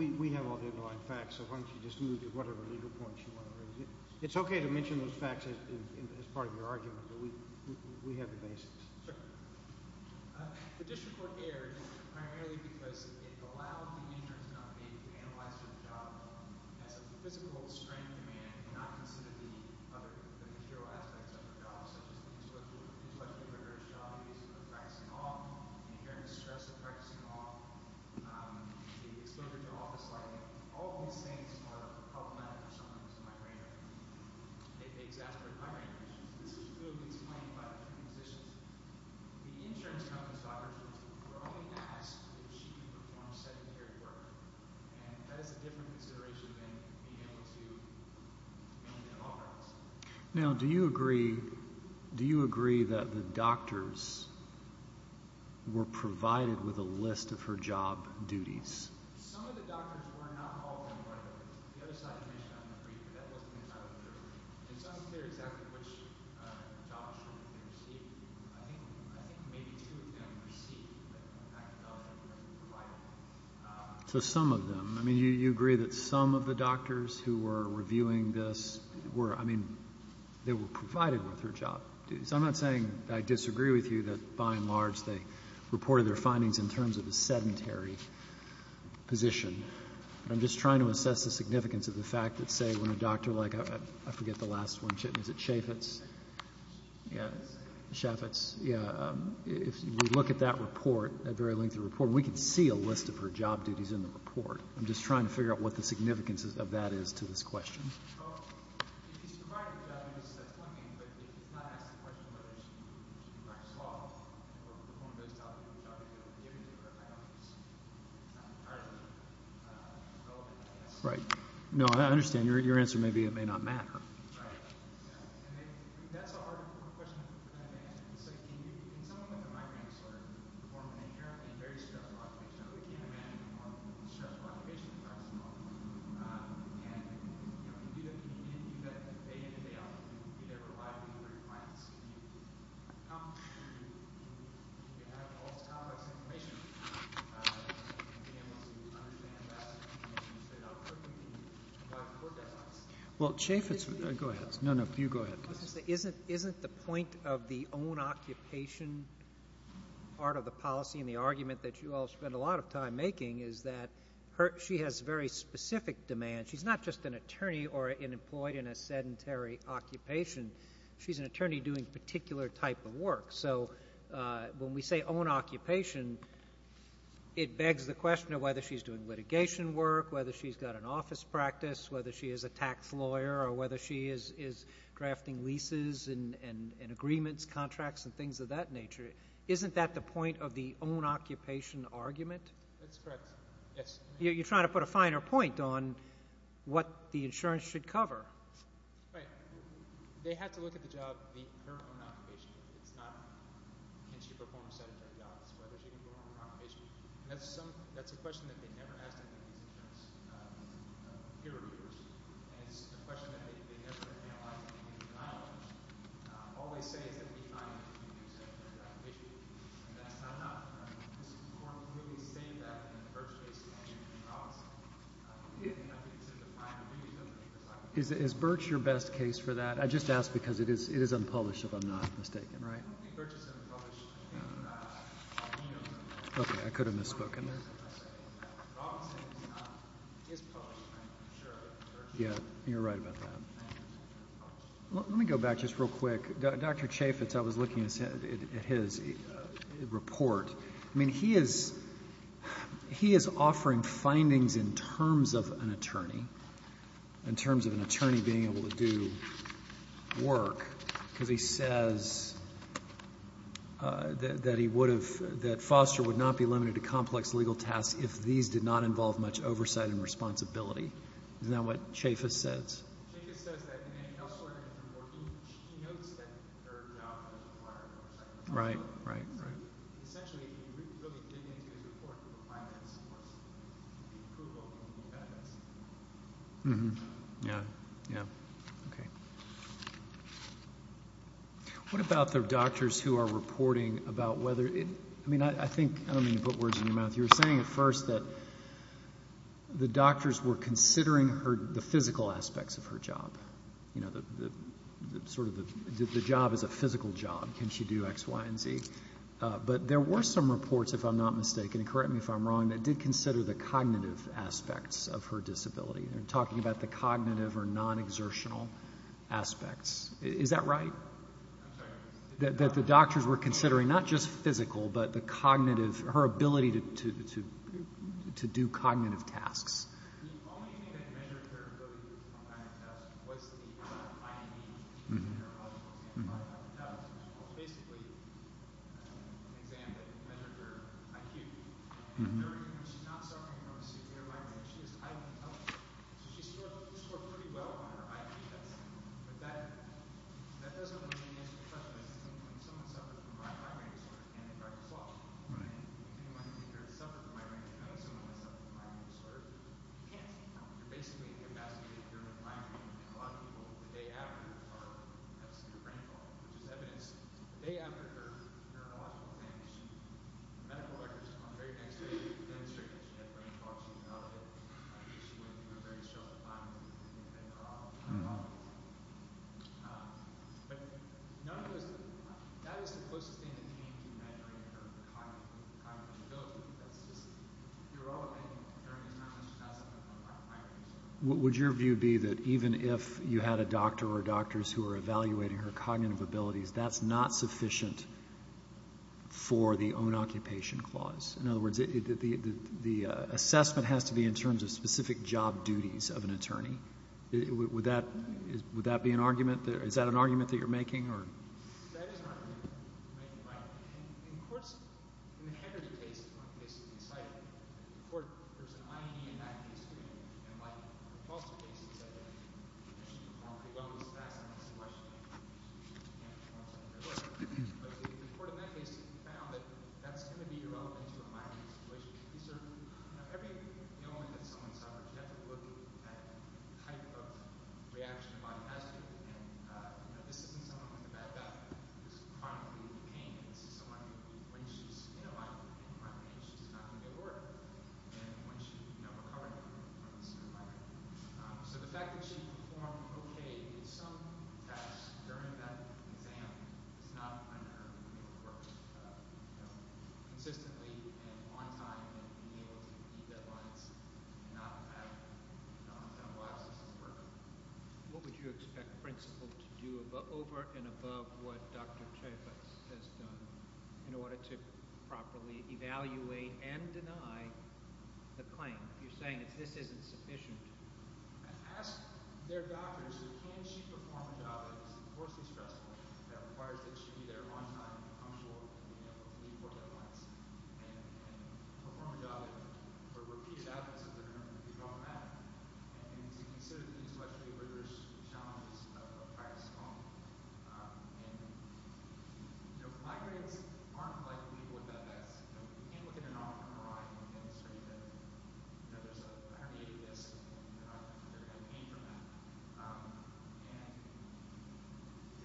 We have all the underlying facts, so why don't you just move to whatever legal point you want to raise. It's okay to mention those facts as part of your argument, but we have the basis. The district court erred primarily because it allowed the injured to not be able to analyze their job well. As a physical strength demand, it did not consider the material aspects of the job, such as intellectual rigor, job use, practicing law, and hearing the stress of practicing law. The exposure to office lighting, all of these things are problematic for someone who is a migrant. It exacerbated hiring issues. This was clearly explained by the physicians. The insurance company's doctors were only asked if she could perform sedentary work, and that is a different consideration than being able to maintain an office. Now, do you agree that the doctors were provided with a list of her job duties? Some of the doctors were not called on board. The other side of the commission, I agree, but that wasn't entirely clear. It's unclear exactly which jobs she received. I think maybe two of them received, but in fact, none of them were provided. So some of them. I mean, you agree that some of the doctors who were reviewing this were, I mean, they were provided with her job duties. So I'm not saying I disagree with you that, by and large, they reported their findings in terms of a sedentary position. I'm just trying to assess the significance of the fact that, say, when a doctor like, I forget the last one, is it Chaffetz? Yeah. Chaffetz. Yeah. If you look at that report, that very lengthy report, we can see a list of her job duties in the report. I'm just trying to figure out what the significance of that is to this question. If he's provided a job, that's one thing. But if he's not asked the question whether she can practice law or perform a good job, is that what they're giving to her? I don't think it's entirely relevant, I guess. Right. No, I understand. Your answer may be it may not matter. Right. And that's a hard question to kind of answer. So can someone with a migraine disorder perform an inherently very stressful occupation? You know, they can't imagine a more stressful occupation than practicing law. And, you know, can you do that? Can you do that day in and day out? Can you do that reliably for your clients? Can you come to, can you have all the topics and information to be able to understand that and be able to say how quickly can you provide the work that's needed? Well, Chaffetz, go ahead. No, no, you go ahead. Isn't the point of the own occupation part of the policy and the argument that you all spend a lot of time making is that she has very specific demands. She's not just an attorney or employed in a sedentary occupation. She's an attorney doing a particular type of work. So when we say own occupation, it begs the question of whether she's doing litigation work, whether she's got an office practice, whether she is a tax lawyer, or whether she is drafting leases and agreements, contracts, and things of that nature. Isn't that the point of the own occupation argument? That's correct, yes. You're trying to put a finer point on what the insurance should cover. Right. They had to look at the job, the current own occupation. It's not can she perform sedentary jobs, whether she can perform an occupation. That's a question that they never asked any of these insurance peer reviewers. And it's a question that they never analyzed any of these guidelines. All they say is that we find that she can do sedentary occupation. And that's not enough. This Court clearly stated that in the Birch case and in Robinson. We didn't have to consider the finer details. Is Birch your best case for that? I just ask because it is unpublished, if I'm not mistaken, right? I don't think Birch is unpublished. Okay. I could have misspoken there. Robinson is unpublished, I'm sure. Yeah, you're right about that. Let me go back just real quick. Dr. Chaffetz, I was looking at his report. I mean, he is offering findings in terms of an attorney, in terms of an attorney being able to do work, because he says that Foster would not be limited to complex legal tasks if these did not involve much oversight and responsibility. Isn't that what Chaffetz says? Chaffetz says that elsewhere in his report, he notes that their job requires oversight. Right, right, right. Essentially, he really didn't get into his report to provide that support. Approval from Chaffetz. Yeah, yeah. Okay. What about the doctors who are reporting about whether it – I mean, I think – I don't mean to put words in your mouth. You were saying at first that the doctors were considering the physical aspects of her job, you know, sort of the job as a physical job, can she do X, Y, and Z. But there were some reports, if I'm not mistaken, and correct me if I'm wrong, that did consider the cognitive aspects of her disability. You're talking about the cognitive or non-exertional aspects. Is that right? I'm sorry. That the doctors were considering not just physical, but the cognitive – her ability to do cognitive tasks. The only thing that measured her ability to do complex tasks was the IME, which is a neurological exam. Basically, an exam that measured her IQ. She's not suffering from a severe migraine. She is highly intelligent. So she scored pretty well on her IQ test. But that doesn't really answer the question. At some point, someone suffers from a migraine disorder and they start to flop. Right. If anyone here has suffered from migraine, I know someone has suffered from migraine disorder. You can't. You're basically incapacitated during the migraine. A lot of people, the day after, have a severe brain fog, which is evidence. The day after her neurological exam, the medical records come on the very next day, and it's true that she had brain fog. She developed it. She went through a very short time in bed for a long, long time. But none of those – that is the closest thing that came to measuring her cognitive ability. That's just – you're all awake during this time. She's not suffering from a migraine. Would your view be that even if you had a doctor or doctors who were evaluating her cognitive abilities, that's not sufficient for the own-occupation clause? In other words, the assessment has to be in terms of specific job duties of an attorney. Would that be an argument? Is that an argument that you're making? That is an argument. Of course, in the Henry case, the one case that we cited, the court – there's an IED in that case, too, and like the Paulson case that I mentioned before, they've always fascinated the question of if she can't perform some of her work. But the court in that case found that that's going to be irrelevant to a migraine situation. These are – every moment that someone suffers, you have to look at the type of reaction the body has to it. This isn't someone with a bad back. This is chronically in pain. This is someone who, when she's in a migraine, she's not going to get work. And when she's recovering from a certain migraine. So the fact that she performed okay in some tasks during that exam is not unheard of in the court. Consistently and on time and being able to meet deadlines and not have a lot of systems working. What would you expect a principal to do over and above what Dr. Chaifetz has done in order to properly evaluate and deny the claim? If you're saying this isn't sufficient. Ask their doctors, can she perform a job that is enormously stressful that requires that she be there a long time and be comfortable and be able to meet deadlines and perform a job that – or repeat it out as if they're going to repeat off of that. And to consider the intellectual rigorous challenges of practice at home. And migraines aren't like people with bad backs. We can't look at an off MRI and demonstrate that there's a herniated disc and they're going to get pain from that. And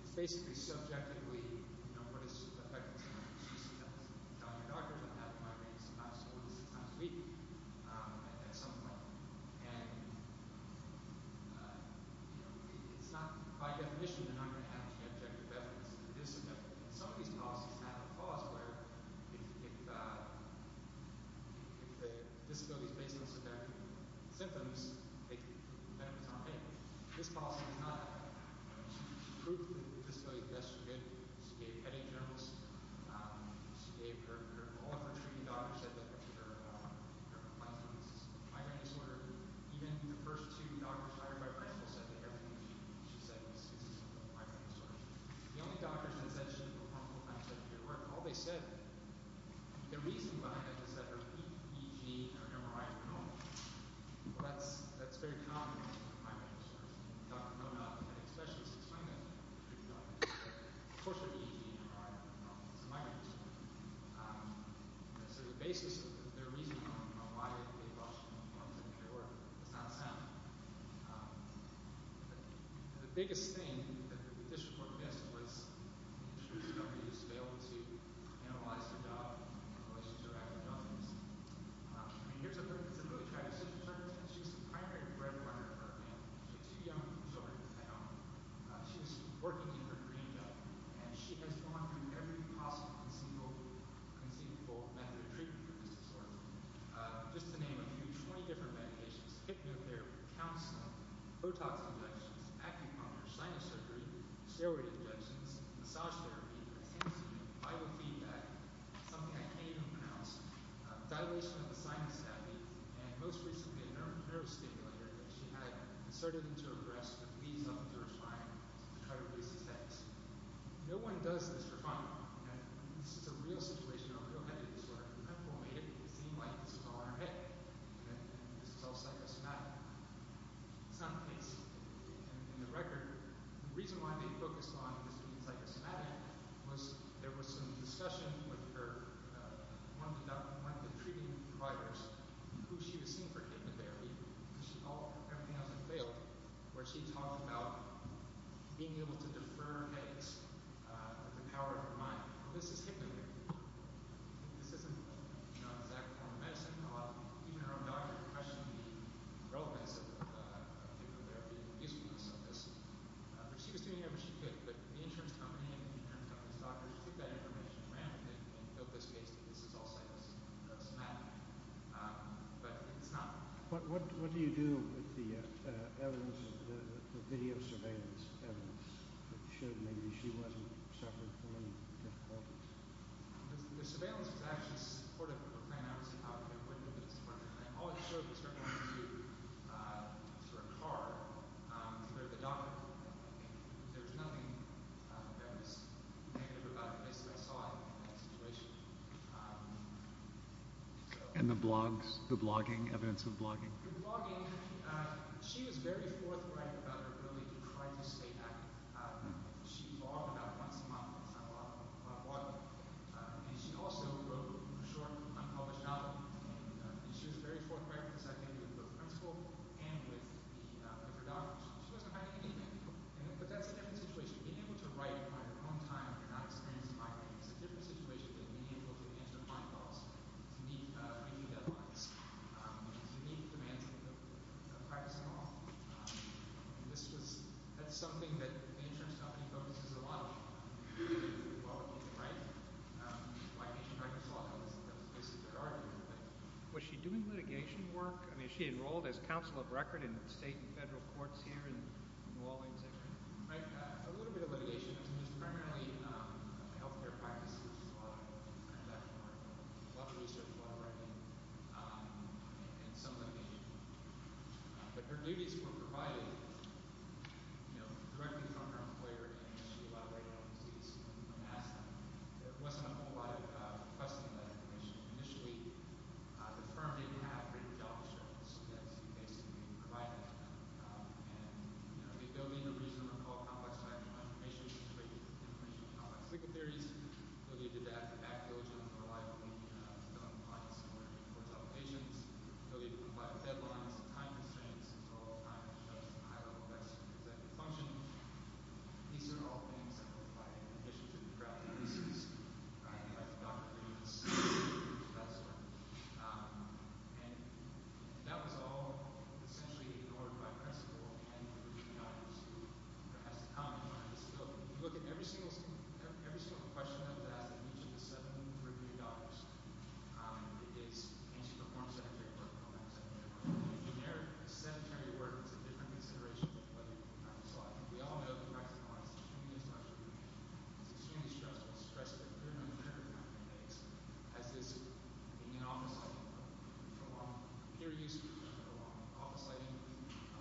it's basically subjectively what is affecting someone. Tell your doctors I'm having migraines sometimes four to six times a week at some point. And it's not by definition that I'm going to have subjective benefits. Some of these policies have a clause where if the disability is based on subjective symptoms, they can benefit from pain. This policy is not that. She proved that the disability tests were good. She gave headache journals. She gave her – all of her treating doctors said that there were complaints of migraine disorder. Even the first two doctors hired by Bristol said that everything she said was consistent with migraine disorder. The only doctors that said she didn't perform full-time surgery were all they said. The reason behind it is that her EPG and her MRI are normal. Well, that's very common with migraine disorders. Doctors know that. Many specialists explain that to their treating doctors. Of course, her EPG and her MRI are normal. It's a migraine disorder. So the basis of their reasoning on why they rushed and why they didn't care is not sound. The biggest thing that the district court missed was should somebody just be able to analyze their job in relation to their academic outcomes? It's a really tragic circumstance. She was the primary breadwinner of her family. She had two young children of her own. She was working in her dream job. And she has gone through every possible conceivable method of treatment for this disorder. Just to name a few, 20 different medications, hypnotherapy, counseling, Botox injections, acupuncture, sinus surgery, steroid injections, massage therapy, biofeedback, something I can't even pronounce, dilation of the sinus tablet, and most recently a nervous stimulator that she had inserted into her breast that leads up to her spine to try to release the stents. No one does this for fun. This is a real situation, a real headache disorder. The medical made it seem like this was all in her head. This is all psychosomatic. It's not the case. In the record, the reason why they focused on this being psychosomatic was there was some discussion with one of the treating providers who she had seen for hypnotherapy. Everything else had failed. She talked about being able to defer headaches with the power of her mind. This is hypnotherapy. This isn't exact form of medicine. Even her own doctor questioned the relevance of hypnotherapy and the usefulness of this. She was doing everything she could, but the insurance company and the insurance company's doctors took that information around and built this case that this is all psychosomatic. But it's not. What do you do with the evidence, the video surveillance evidence that showed maybe she wasn't suffering from any difficulties? The surveillance was actually supportive of a plan I was involved in. All it showed was her going to a car where the doctor was. There was nothing that was negative about it. Basically, I saw it in that situation. And the blogs, the blogging, evidence of blogging? The blogging, she was very forthright about it. Really tried to stay active. She logged about once a month on blogging. And she also wrote a short, unpublished article. She was very forthright with this idea with the principal and with her doctor. She wasn't hiding anything. But that's a different situation. Being able to write on your own time and not experiencing migraines is a different situation than being able to answer phone calls to meet any deadlines, to meet the demands of the privacy law. And that's something that the insurance company focuses a lot on, quality of life. Was she doing litigation work? I mean, is she enrolled as counsel of record in state and federal courts here? A little bit of litigation. I mean, it's primarily health care practices. A lot of research, a lot of writing. And some litigation. But her duties were provided directly from her employer. There wasn't a whole lot of question of that information. Initially, the firm didn't have great job descriptions. That's basically what we provided. And they built in a reasonable amount of complex information and complex legal theories. They needed to act diligently and reliably in compliance with the court's obligations. They needed to comply with deadlines and time constraints until all time was adjusted to a high level of rest and executive function. These are all things that were provided in an issue to the crowd. And that was all essentially ignored by the principal and the reviewed auditors. Every single question that was asked in each of the seven reviewed auditors is, can she perform sedentary work? In general, sedentary work is a different consideration. So I think we all know the facts and the lies. It's extremely stressful, stressful. As is being in an office for a long period of time.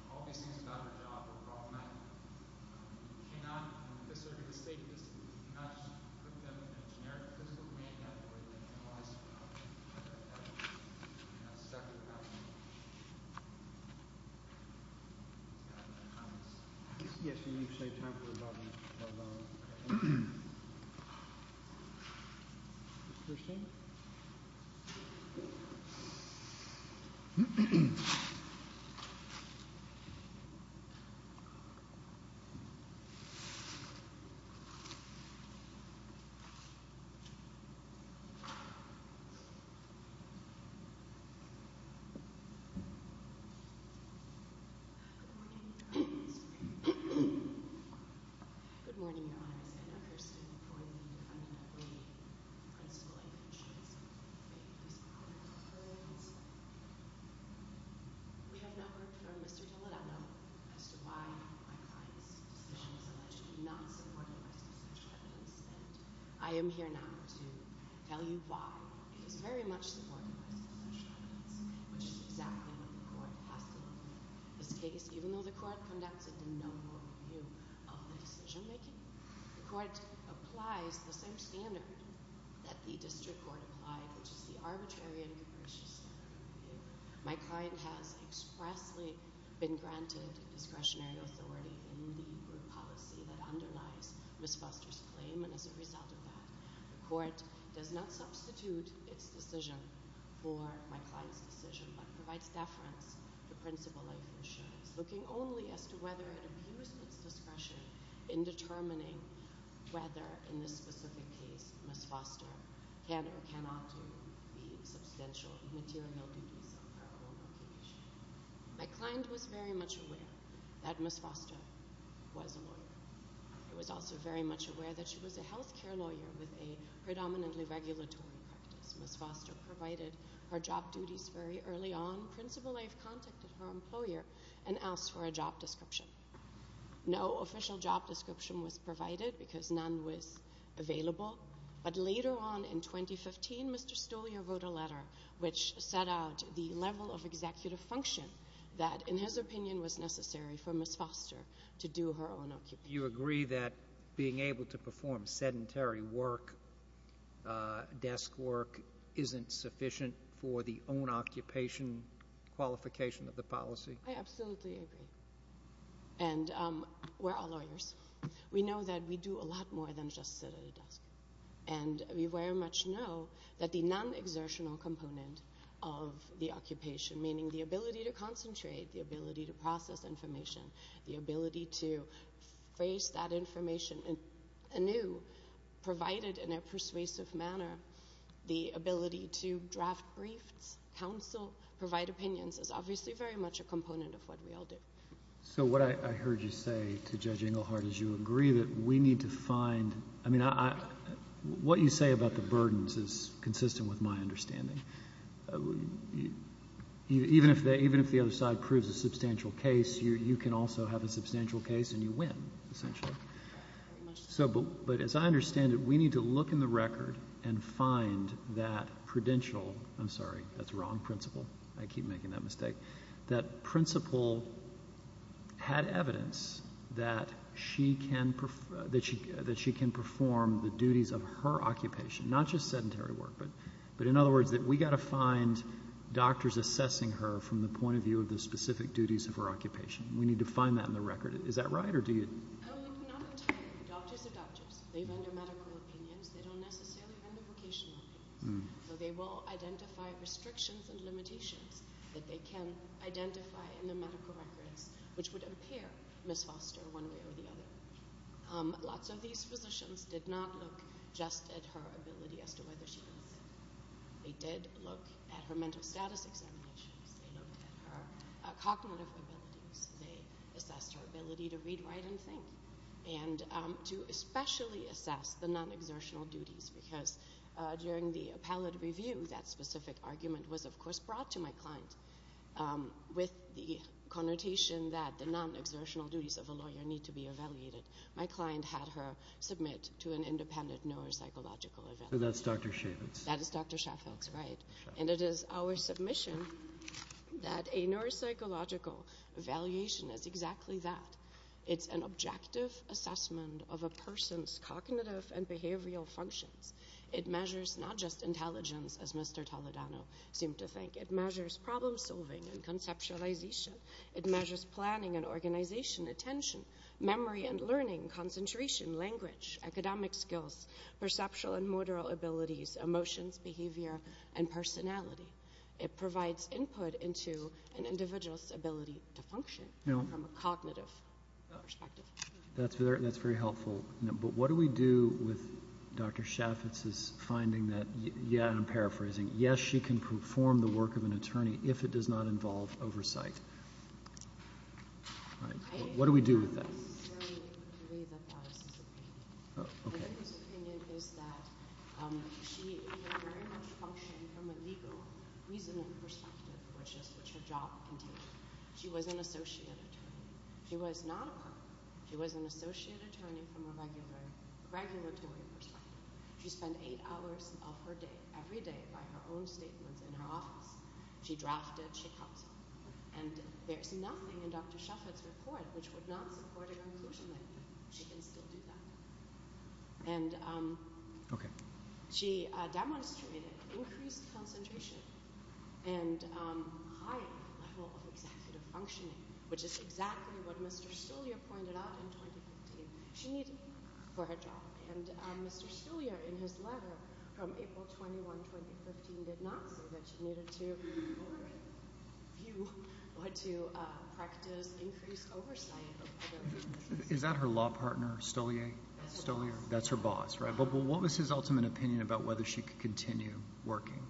All these things about her job were brought to light. You cannot, in this circuit of state, you cannot put them in a generic physical domain that would penalize her. Yes, and you've saved time for about an hour. Christian? Thank you. Good morning, Your Honor. Good morning, Your Honor. I stand up here standing before you in front of the principal. Thank you. We have not heard from Mr. Dallarano as to why my client's decision is alleged to not support the rest of such evidence. And I am here now to tell you why. It is very much supporting the rest of such evidence, which is exactly what the court has to look at. This case, even though the court conducted no more review of the decision-making, the court applies the same standard that the district court applied, which is the arbitrary and capricious standard review. My client has expressly been granted discretionary authority in the group policy that underlies Ms. Foster's claim, and as a result of that, the court does not substitute its decision for my client's decision, but provides deference to principal life insurance, looking only as to whether it abused its discretion in determining whether, in this specific case, Ms. Foster can or cannot do the substantial material duties of her own occupation. My client was very much aware that Ms. Foster was a lawyer. She was also very much aware that she was a health care lawyer with a predominantly regulatory practice. Ms. Foster provided her job duties very early on. Principal life contacted her employer and asked for a job description. No official job description was provided because none was available. But later on in 2015, Mr. Stolyar wrote a letter which set out the level of executive function that, in his opinion, was necessary for Ms. Foster to do her own occupation. Do you agree that being able to perform sedentary work, desk work, isn't sufficient for the own occupation qualification of the policy? I absolutely agree. And we're all lawyers. We know that we do a lot more than just sit at a desk. And we very much know that the non-exertional component of the occupation, meaning the ability to concentrate, the ability to process information, the ability to phrase that information anew, provided in a persuasive manner, the ability to draft briefs, counsel, provide opinions, is obviously very much a component of what we all do. So what I heard you say to Judge Engelhardt is you agree that we need to find... I mean, what you say about the burdens is consistent with my understanding. Even if the other side proves a substantial case, you can also have a substantial case and you win, essentially. But as I understand it, we need to look in the record and find that prudential... I'm sorry, that's wrong principle. I keep making that mistake. That principle had evidence that she can perform the duties of her occupation, not just sedentary work, but in other words that we've got to find doctors assessing her from the point of view of the specific duties of her occupation. We need to find that in the record. Is that right, or do you...? No, not entirely. Doctors are doctors. They render medical opinions. They don't necessarily render vocational opinions. So they will identify restrictions and limitations that they can identify in the medical records which would impair Ms. Foster one way or the other. Lots of these physicians did not look just at her ability as to whether she was sick. They did look at her mental status examinations. They looked at her cognitive abilities. They assessed her ability to read, write, and think and to especially assess the non-exertional duties because during the appellate review, that specific argument was of course brought to my client with the connotation that the non-exertional duties of a lawyer need to be evaluated. My client had her submit to an independent neuropsychological evaluation. So that's Dr. Chaffetz. That is Dr. Chaffetz, right. And it is our submission that a neuropsychological evaluation is exactly that. It's an objective assessment of a person's cognitive and behavioral functions. It measures not just intelligence, as Mr. Toledano seemed to think. It measures problem-solving and conceptualization. It measures planning and organization, attention, memory and learning, concentration, language, academic skills, perceptual and motor abilities, emotions, behavior, and personality. It provides input into an individual's ability to function from a cognitive perspective. That's very helpful. But what do we do with Dr. Chaffetz's finding that, and I'm paraphrasing, yes, she can perform the work of an attorney if it does not involve oversight. What do we do with that? I disagree with the way that that is his opinion. I think his opinion is that she can very much function from a legal, reasonable perspective, which is what your job entails. She was an associate attorney. She was not a partner. She was an associate attorney from a regulatory perspective. She spent eight hours of her day, every day, by her own statements in her office. She drafted, she counseled. And there's nothing in Dr. Chaffetz's report which would not support her inclusion language. She can still do that. She demonstrated increased concentration and higher level of executive functioning, which is exactly what Mr. Stollier pointed out in 2015. She needed it for her job. And Mr. Stollier, in his letter from April 21, 2015, did not say that she needed to be overrated. You ought to practice increased oversight. Is that her law partner, Stollier? That's her boss, right? But what was his ultimate opinion about whether she could continue working?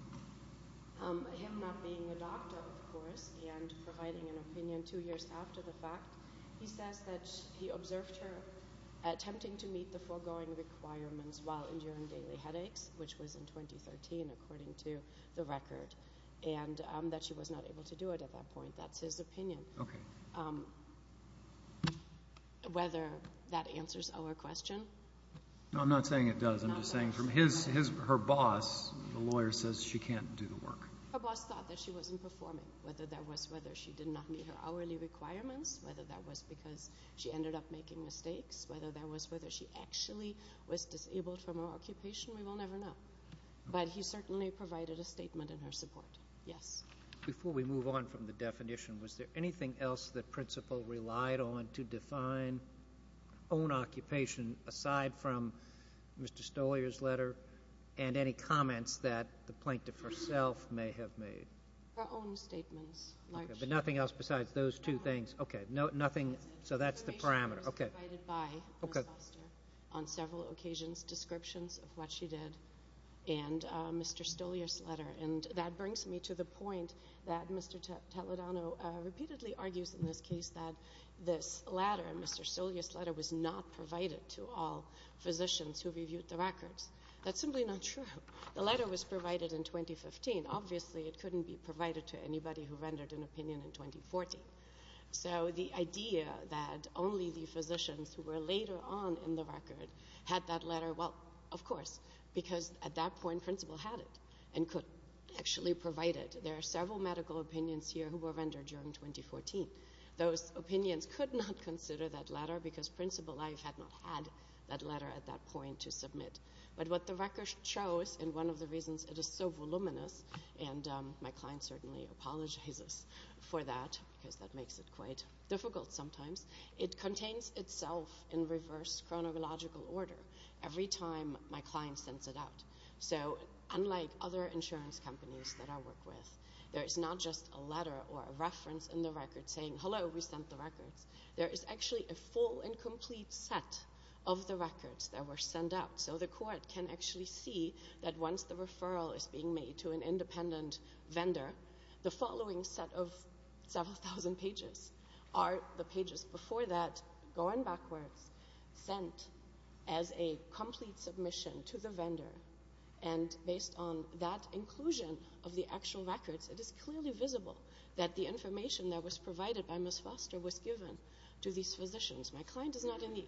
Him not being a doctor, of course, and providing an opinion two years after the fact, he says that he observed her attempting to meet the foregoing requirements while enduring daily headaches, which was in 2013, according to the record, and that she was not able to do it at that point. That's his opinion. Whether that answers our question? No, I'm not saying it does. I'm just saying from her boss, the lawyer says she can't do the work. Her boss thought that she wasn't performing, whether that was whether she did not meet her hourly requirements, whether that was because she ended up making mistakes, whether that was whether she actually was disabled from her occupation, we will never know. But he certainly provided a statement in her support, yes. Before we move on from the definition, was there anything else that principle relied on to define own occupation, aside from Mr. Stollier's letter and any comments that the plaintiff herself may have made? Her own statements. But nothing else besides those two things? Okay. So that's the parameter. Okay. On several occasions, descriptions of what she did and Mr. Stollier's letter. And that brings me to the point that Mr. Taladano repeatedly argues in this case that this letter, Mr. Stollier's letter, was not provided to all physicians who reviewed the records. That's simply not true. The letter was provided in 2015. Obviously, it couldn't be provided to anybody who rendered an opinion in 2014. So the idea that only the physicians who were later on in the record had that letter, well, of course, because at that point principle had it and could actually provide it. There are several medical opinions here who were rendered during 2014. Those opinions could not consider that letter because principle life had not had that letter at that point to submit. But what the record shows, and one of the reasons it is so voluminous, and my client certainly apologizes for that because that makes it quite difficult sometimes, it contains itself in reverse chronological order every time my client sends it out. So unlike other insurance companies that I work with, there is not just a letter or a reference in the record saying, Hello, we sent the records. There is actually a full and complete set of the records that were sent out. So the court can actually see that once the referral is being made to an independent vendor, the following set of several thousand pages are the pages before that, going backwards, sent as a complete submission to the vendor. And based on that inclusion of the actual records, it is clearly visible that the information that was provided by Ms. Foster was given to these physicians. My client is not in the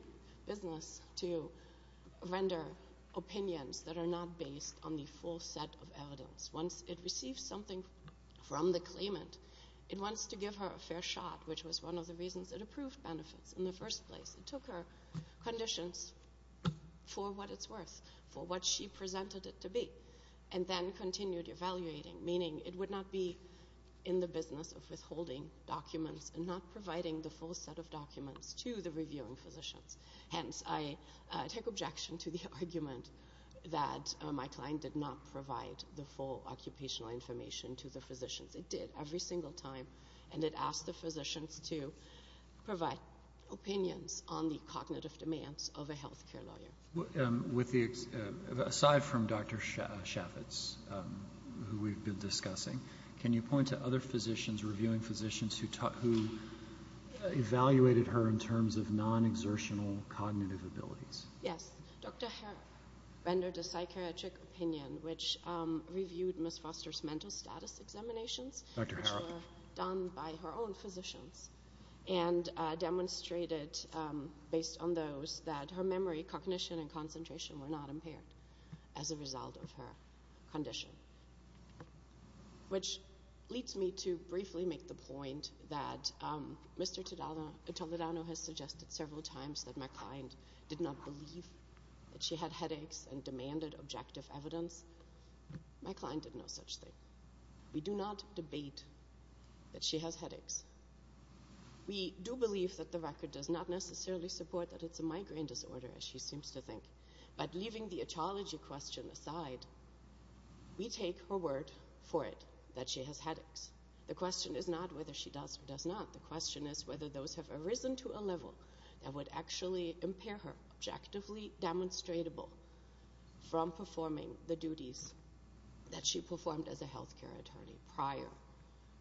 business to render opinions that are not based on the full set of evidence. Once it receives something from the claimant, it wants to give her a fair shot, which was one of the reasons it approved benefits in the first place. It took her conditions for what it's worth, for what she presented it to be, and then continued evaluating, meaning it would not be in the business of withholding documents and not providing the full set of documents to the reviewing physicians. Hence, I take objection to the argument that my client did not provide the full occupational information to the physicians. It did every single time, and it asked the physicians to provide opinions on the cognitive demands of a health care lawyer. Aside from Dr. Shaffitz, who we've been discussing, can you point to other physicians, reviewing physicians, who evaluated her in terms of non-exertional cognitive abilities? Yes. Dr. Harrop rendered a psychiatric opinion, which reviewed Ms. Foster's mental status examinations, which were done by her own physicians, and demonstrated, based on those, that her memory, cognition, and concentration were not impaired as a result of her condition. Which leads me to briefly make the point that Mr. Toledano has suggested several times that my client did not believe that she had headaches and demanded objective evidence. My client did no such thing. We do not debate that she has headaches. We do believe that the record does not necessarily support that it's a migraine disorder, as she seems to think. But leaving the etiology question aside, we take her word for it that she has headaches. The question is not whether she does or does not. The question is whether those have arisen to a level that would actually impair her, objectively demonstrable, from performing the duties that she performed as a healthcare attorney prior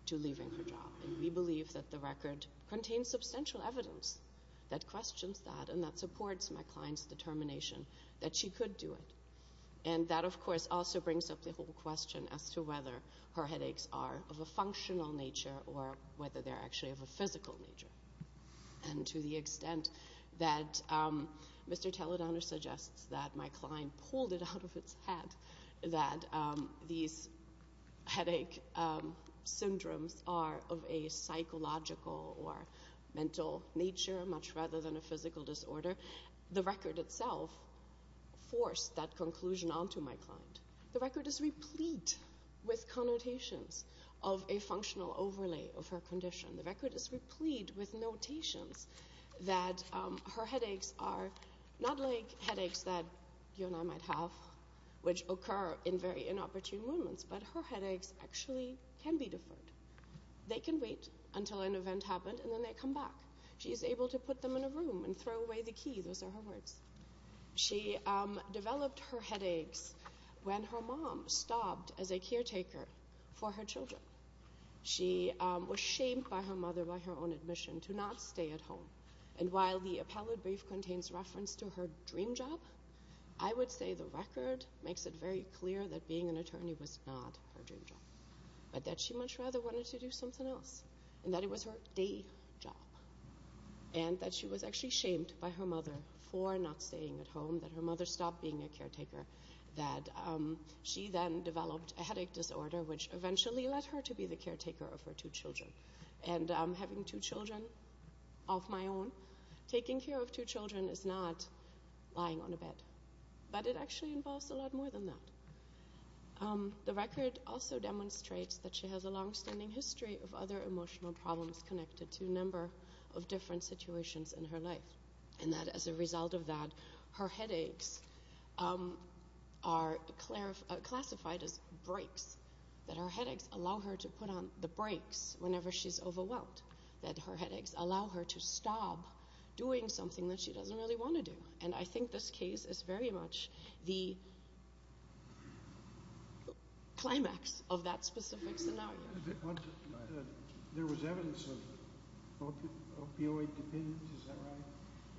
to leaving her job. We believe that the record contains substantial evidence that questions that, and that supports my client's determination that she could do it. And that, of course, also brings up the whole question as to whether her headaches are of a functional nature, or whether they're actually of a physical nature. And to the extent that Mr. Toledano suggests that my client pulled it out of its head that these headache syndromes are of a psychological or mental nature, much rather than a physical disorder, the record itself forced that conclusion onto my client. The record is replete with connotations of a functional overlay of her condition. The record is replete with notations that her headaches are not like headaches that you and I might have, which occur in very inopportune moments, but her headaches actually can be deferred. They can wait until an event happened, and then they come back. She is able to put them in a room and throw away the key. Those are her words. She developed her headaches when her mom stopped as a caretaker for her children. She was shamed by her mother by her own admission to not stay at home. And while the appellate brief contains reference to her dream job, I would say the record makes it very clear that being an attorney was not her dream job, but that she much rather wanted to do something else, and that it was her day job, and that she was actually shamed by her mother for not staying at home, that her mother stopped being a caretaker, that she then developed a headache disorder, which eventually led her to be the caretaker of her two children. And having two children of my own, taking care of two children is not lying on a bed, but it actually involves a lot more than that. The record also demonstrates that she has a longstanding history of other emotional problems connected to a number of different situations in her life, and that as a result of that, her headaches are classified as breaks, that her headaches allow her to put on the breaks whenever she's overwhelmed, that her headaches allow her to stop doing something that she doesn't really want to do. And I think this case is very much the climax of that specific scenario. There was evidence of opioid dependence. Is that right?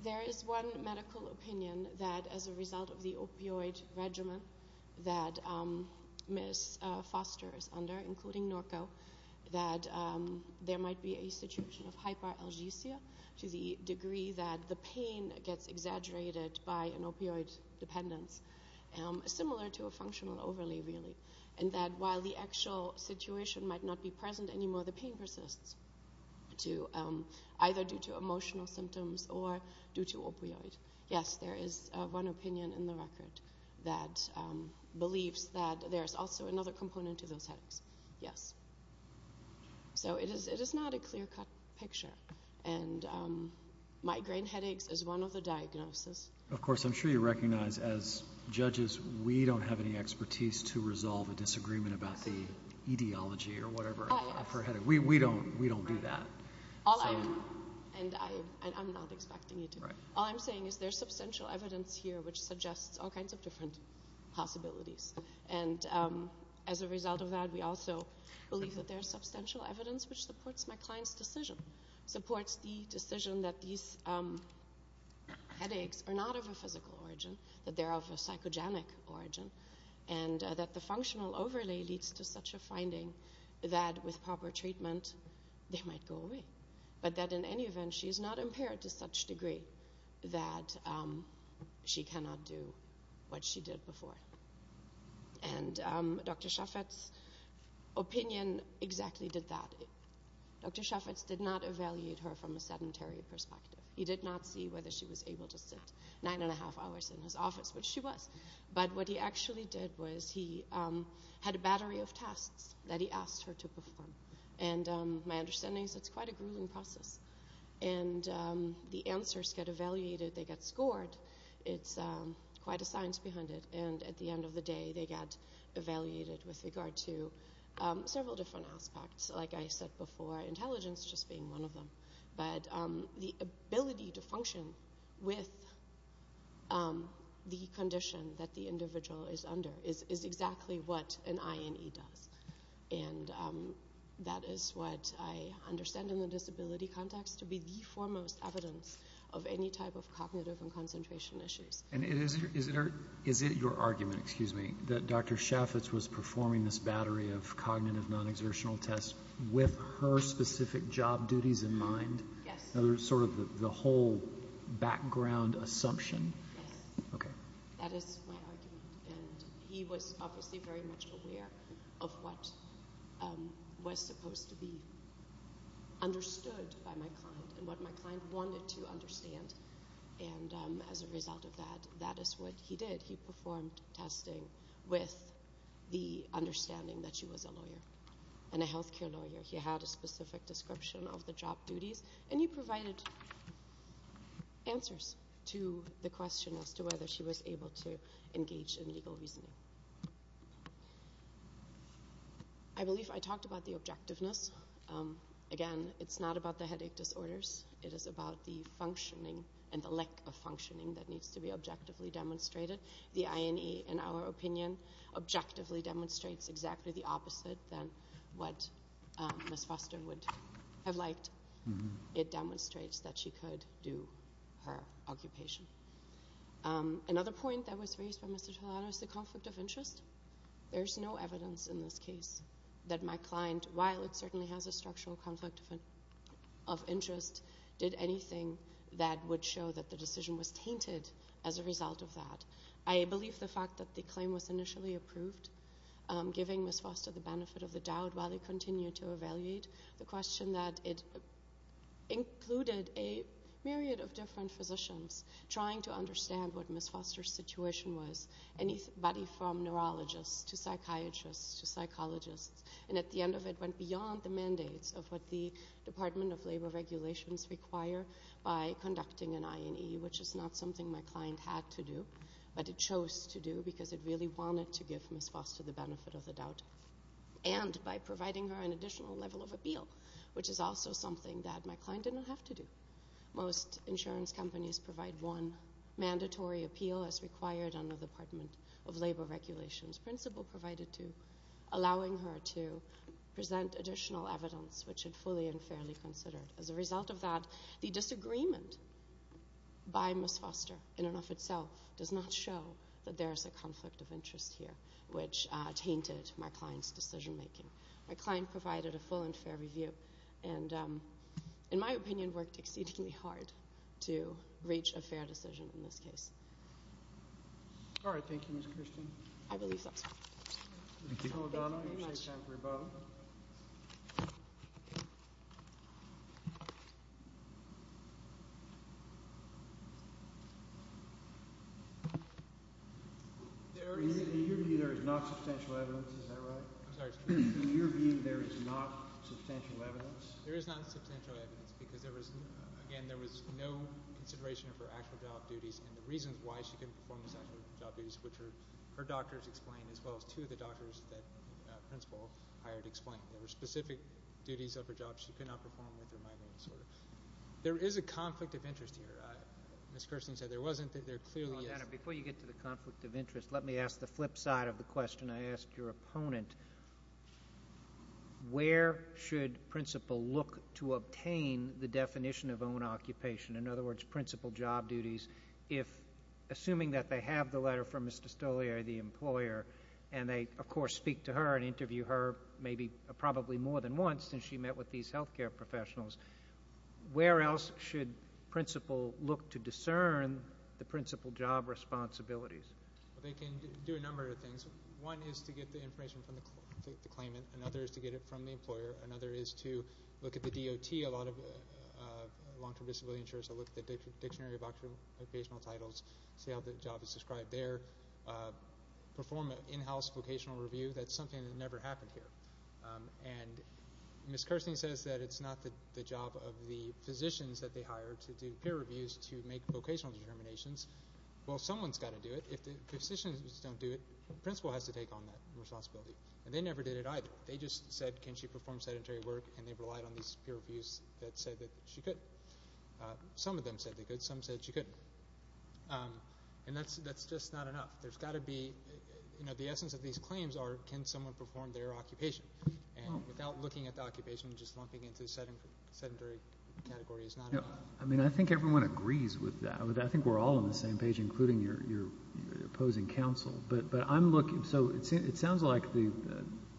There is one medical opinion that as a result of the opioid regimen that Ms. Foster is under, including Norco, that there might be a situation of hyperalgesia to the degree that the pain gets exaggerated by an opioid dependence, similar to a functional overlay, really. And that while the actual situation might not be present anymore, the pain persists either due to emotional symptoms or due to opioid. Yes, there is one opinion in the record that believes that there is also another component to those headaches. Yes. So it is not a clear-cut picture. And migraine headaches is one of the diagnoses. Of course, I'm sure you recognize as judges we don't have any expertise to resolve a disagreement about the etiology or whatever of her headache. We don't do that. And I'm not expecting you to. All I'm saying is there's substantial evidence here which suggests all kinds of different possibilities. And as a result of that, we also believe that there's substantial evidence which supports my client's decision, supports the decision that these headaches are not of a physical origin, that they're of a psychogenic origin, and that the functional overlay leads to such a finding that with proper treatment they might go away, but that in any event she's not impaired to such a degree that she cannot do what she did before. And Dr. Shafetz's opinion exactly did that. Dr. Shafetz did not evaluate her from a sedentary perspective. He did not see whether she was able to sit nine and a half hours in his office, which she was. But what he actually did was he had a battery of tests that he asked her to perform. And my understanding is it's quite a grueling process. And the answers get evaluated. They get scored. It's quite a science behind it. And at the end of the day, they get evaluated with regard to several different aspects, like I said before, intelligence just being one of them. But the ability to function with the condition that the individual is under is exactly what an INE does. And that is what I understand in the disability context to be the foremost evidence of any type of cognitive and concentration issues. And is it your argument, excuse me, that Dr. Shafetz was performing this battery of cognitive non-exertional tests with her specific job duties in mind? Yes. Sort of the whole background assumption? Yes. Okay. That is my argument. And he was obviously very much aware of what was supposed to be understood by my client and what my client wanted to understand. And as a result of that, that is what he did. He performed testing with the understanding that she was a lawyer and a health care lawyer. He had a specific description of the job duties. And he provided answers to the question as to whether she was able to engage in legal reasoning. I believe I talked about the objectiveness. Again, it's not about the headache disorders. It is about the functioning and the lack of functioning that needs to be objectively demonstrated. The INE, in our opinion, objectively demonstrates exactly the opposite than what Ms. Foster would have liked. It demonstrates that she could do her occupation. Another point that was raised by Mr. Tolano is the conflict of interest. There is no evidence in this case that my client, while it certainly has a structural conflict of interest, did anything that would show that the decision was tainted as a result of that. I believe the fact that the claim was initially approved, giving Ms. Foster the benefit of the doubt while they continued to evaluate, the question that it included a myriad of different physicians trying to understand what Ms. Foster's situation was, anybody from neurologists to psychiatrists to psychologists. And at the end of it went beyond the mandates of what the Department of Labor Regulations require by conducting an INE, which is not something my client had to do, but it chose to do because it really wanted to give Ms. Foster the benefit of the doubt, and by providing her an additional level of appeal, which is also something that my client didn't have to do. Most insurance companies provide one mandatory appeal as required under the Department of Labor Regulations principle, allowing her to present additional evidence which is fully and fairly considered. As a result of that, the disagreement by Ms. Foster in and of itself does not show that there is a conflict of interest here, which tainted my client's decision making. My client provided a full and fair review and, in my opinion, worked exceedingly hard to reach a fair decision in this case. All right. Thank you, Ms. Christian. I believe that's all. Mr. O'Donnell, you might have time for a vote. In your view, there is not substantial evidence. Is that right? I'm sorry, Mr. Chairman. In your view, there is not substantial evidence? There is not substantial evidence because, again, there was no consideration for actual job duties, and the reasons why she couldn't perform those actual job duties, which her doctors explained, as well as two of the doctors that the principal hired explained. There were specific duties of her job she could not perform with her migraine disorder. There is a conflict of interest here. Ms. Christian said there wasn't. There clearly is. Before you get to the conflict of interest, let me ask the flip side of the question. I asked your opponent, where should principal look to obtain the definition of own occupation? In other words, principal job duties. Assuming that they have the letter from Mr. Stolier, the employer, and they, of course, speak to her and interview her maybe probably more than once since she met with these health care professionals, where else should principal look to discern the principal job responsibilities? They can do a number of things. One is to get the information from the claimant. Another is to get it from the employer. Another is to look at the DOT. A lot of long-term disability insurers will look at the Dictionary of Occupational Titles, see how the job is described there, perform an in-house vocational review. That's something that never happened here. And Ms. Kirsten says that it's not the job of the physicians that they hire to do peer reviews to make vocational determinations. Well, someone's got to do it. If the physicians don't do it, principal has to take on that responsibility. And they never did it either. They just said, can she perform sedentary work, and they relied on these peer reviews that said that she could. Some of them said they could. Some said she couldn't. And that's just not enough. There's got to be, you know, the essence of these claims are, can someone perform their occupation? And without looking at the occupation, just lumping into the sedentary category is not enough. I mean, I think everyone agrees with that. I think we're all on the same page, including your opposing counsel. So it sounds like the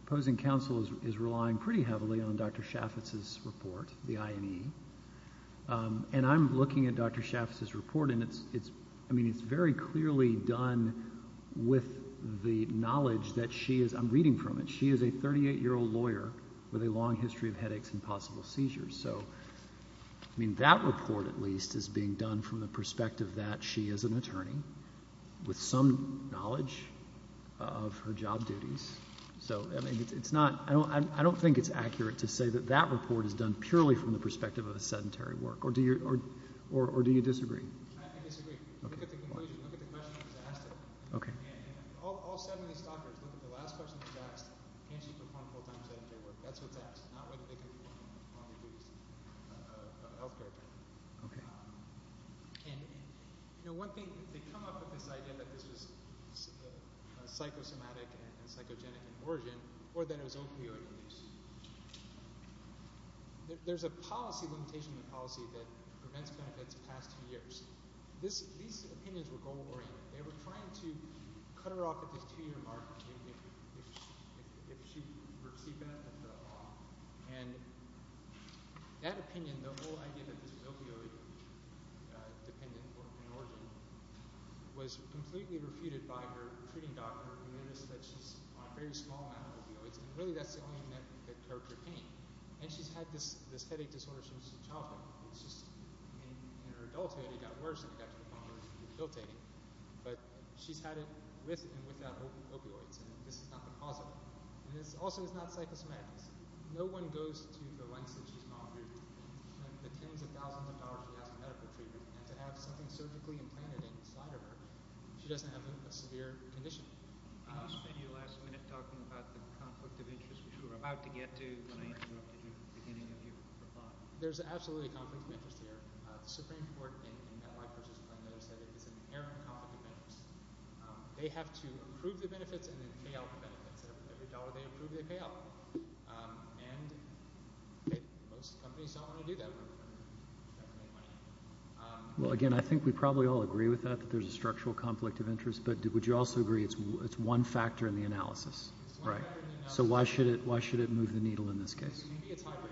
opposing counsel is relying pretty heavily on Dr. Chaffetz's report, the IME. And I'm looking at Dr. Chaffetz's report, and it's very clearly done with the knowledge that she is, I'm reading from it, she is a 38-year-old lawyer with a long history of headaches and possible seizures. So, I mean, that report at least is being done from the perspective that she is an attorney with some knowledge of her job duties. So, I mean, it's not, I don't think it's accurate to say that that report is done purely from the perspective of a sedentary work. Or do you disagree? I disagree. Look at the conclusion. Look at the question that was asked. Okay. All 70 stalkers, look at the last question that was asked. Can she perform full-time sedentary work? That's what's asked, not whether they can perform their duties, healthcare. Okay. And, you know, one thing, they come up with this idea that this was psychosomatic and psychogenic in origin, or that it was opioid abuse. There's a policy limitation in the policy that prevents benefits past two years. These opinions were goal-oriented. They were trying to cut her off at this two-year mark if she were to see benefit at all. And that opinion, the whole idea that this was opioid-dependent in origin, was completely refuted by her treating doctor, who noticed that she's on a very small amount of opioids, and really that's the only thing that curbed her pain. And she's had this headache disorder since childhood. It's just, I mean, in her adulthood it got worse and it got to the point where it was really guilt-taking. But she's had it with and without opioids, and this is not the cause of it. And also it's not psychosomatic. No one goes to the lengths that she's gone through. The tens of thousands of dollars she has in medical treatment, and to have something surgically implanted inside of her, she doesn't have a severe condition. I just saw you last minute talking about the conflict of interest, which we're about to get to. I interrupted you at the beginning of your thought. There's absolutely a conflict of interest here. The Supreme Court in that life-persistence plan knows that it's an inherent conflict of interest. They have to approve the benefits and then pay out the benefits. Every dollar they approve, they pay out. And most companies don't want to do that. Well, again, I think we probably all agree with that, that there's a structural conflict of interest. But would you also agree it's one factor in the analysis? It's one factor in the analysis. So why should it move the needle in this case? Maybe it's hybrid.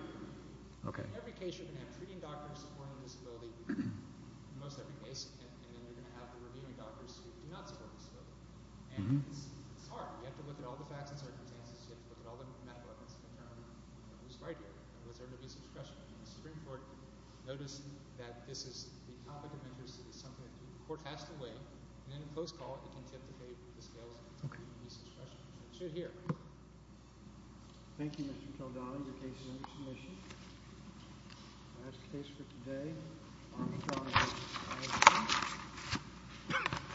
In every case, you're going to have treating doctors supporting a disability. In most every case, and then you're going to have the reviewing doctors who do not support a disability. And it's hard. You have to look at all the facts and circumstances. You have to look at all the medical evidence to determine who's right here. Was there an abuse of discretion? The Supreme Court noticed that this is the topic of interest. It is something that the court has to weigh. And in a close call, it can tip the scales of abuse of discretion. It should here. Thank you, Mr. Kaldani. Your case is under submission. That's the case for today.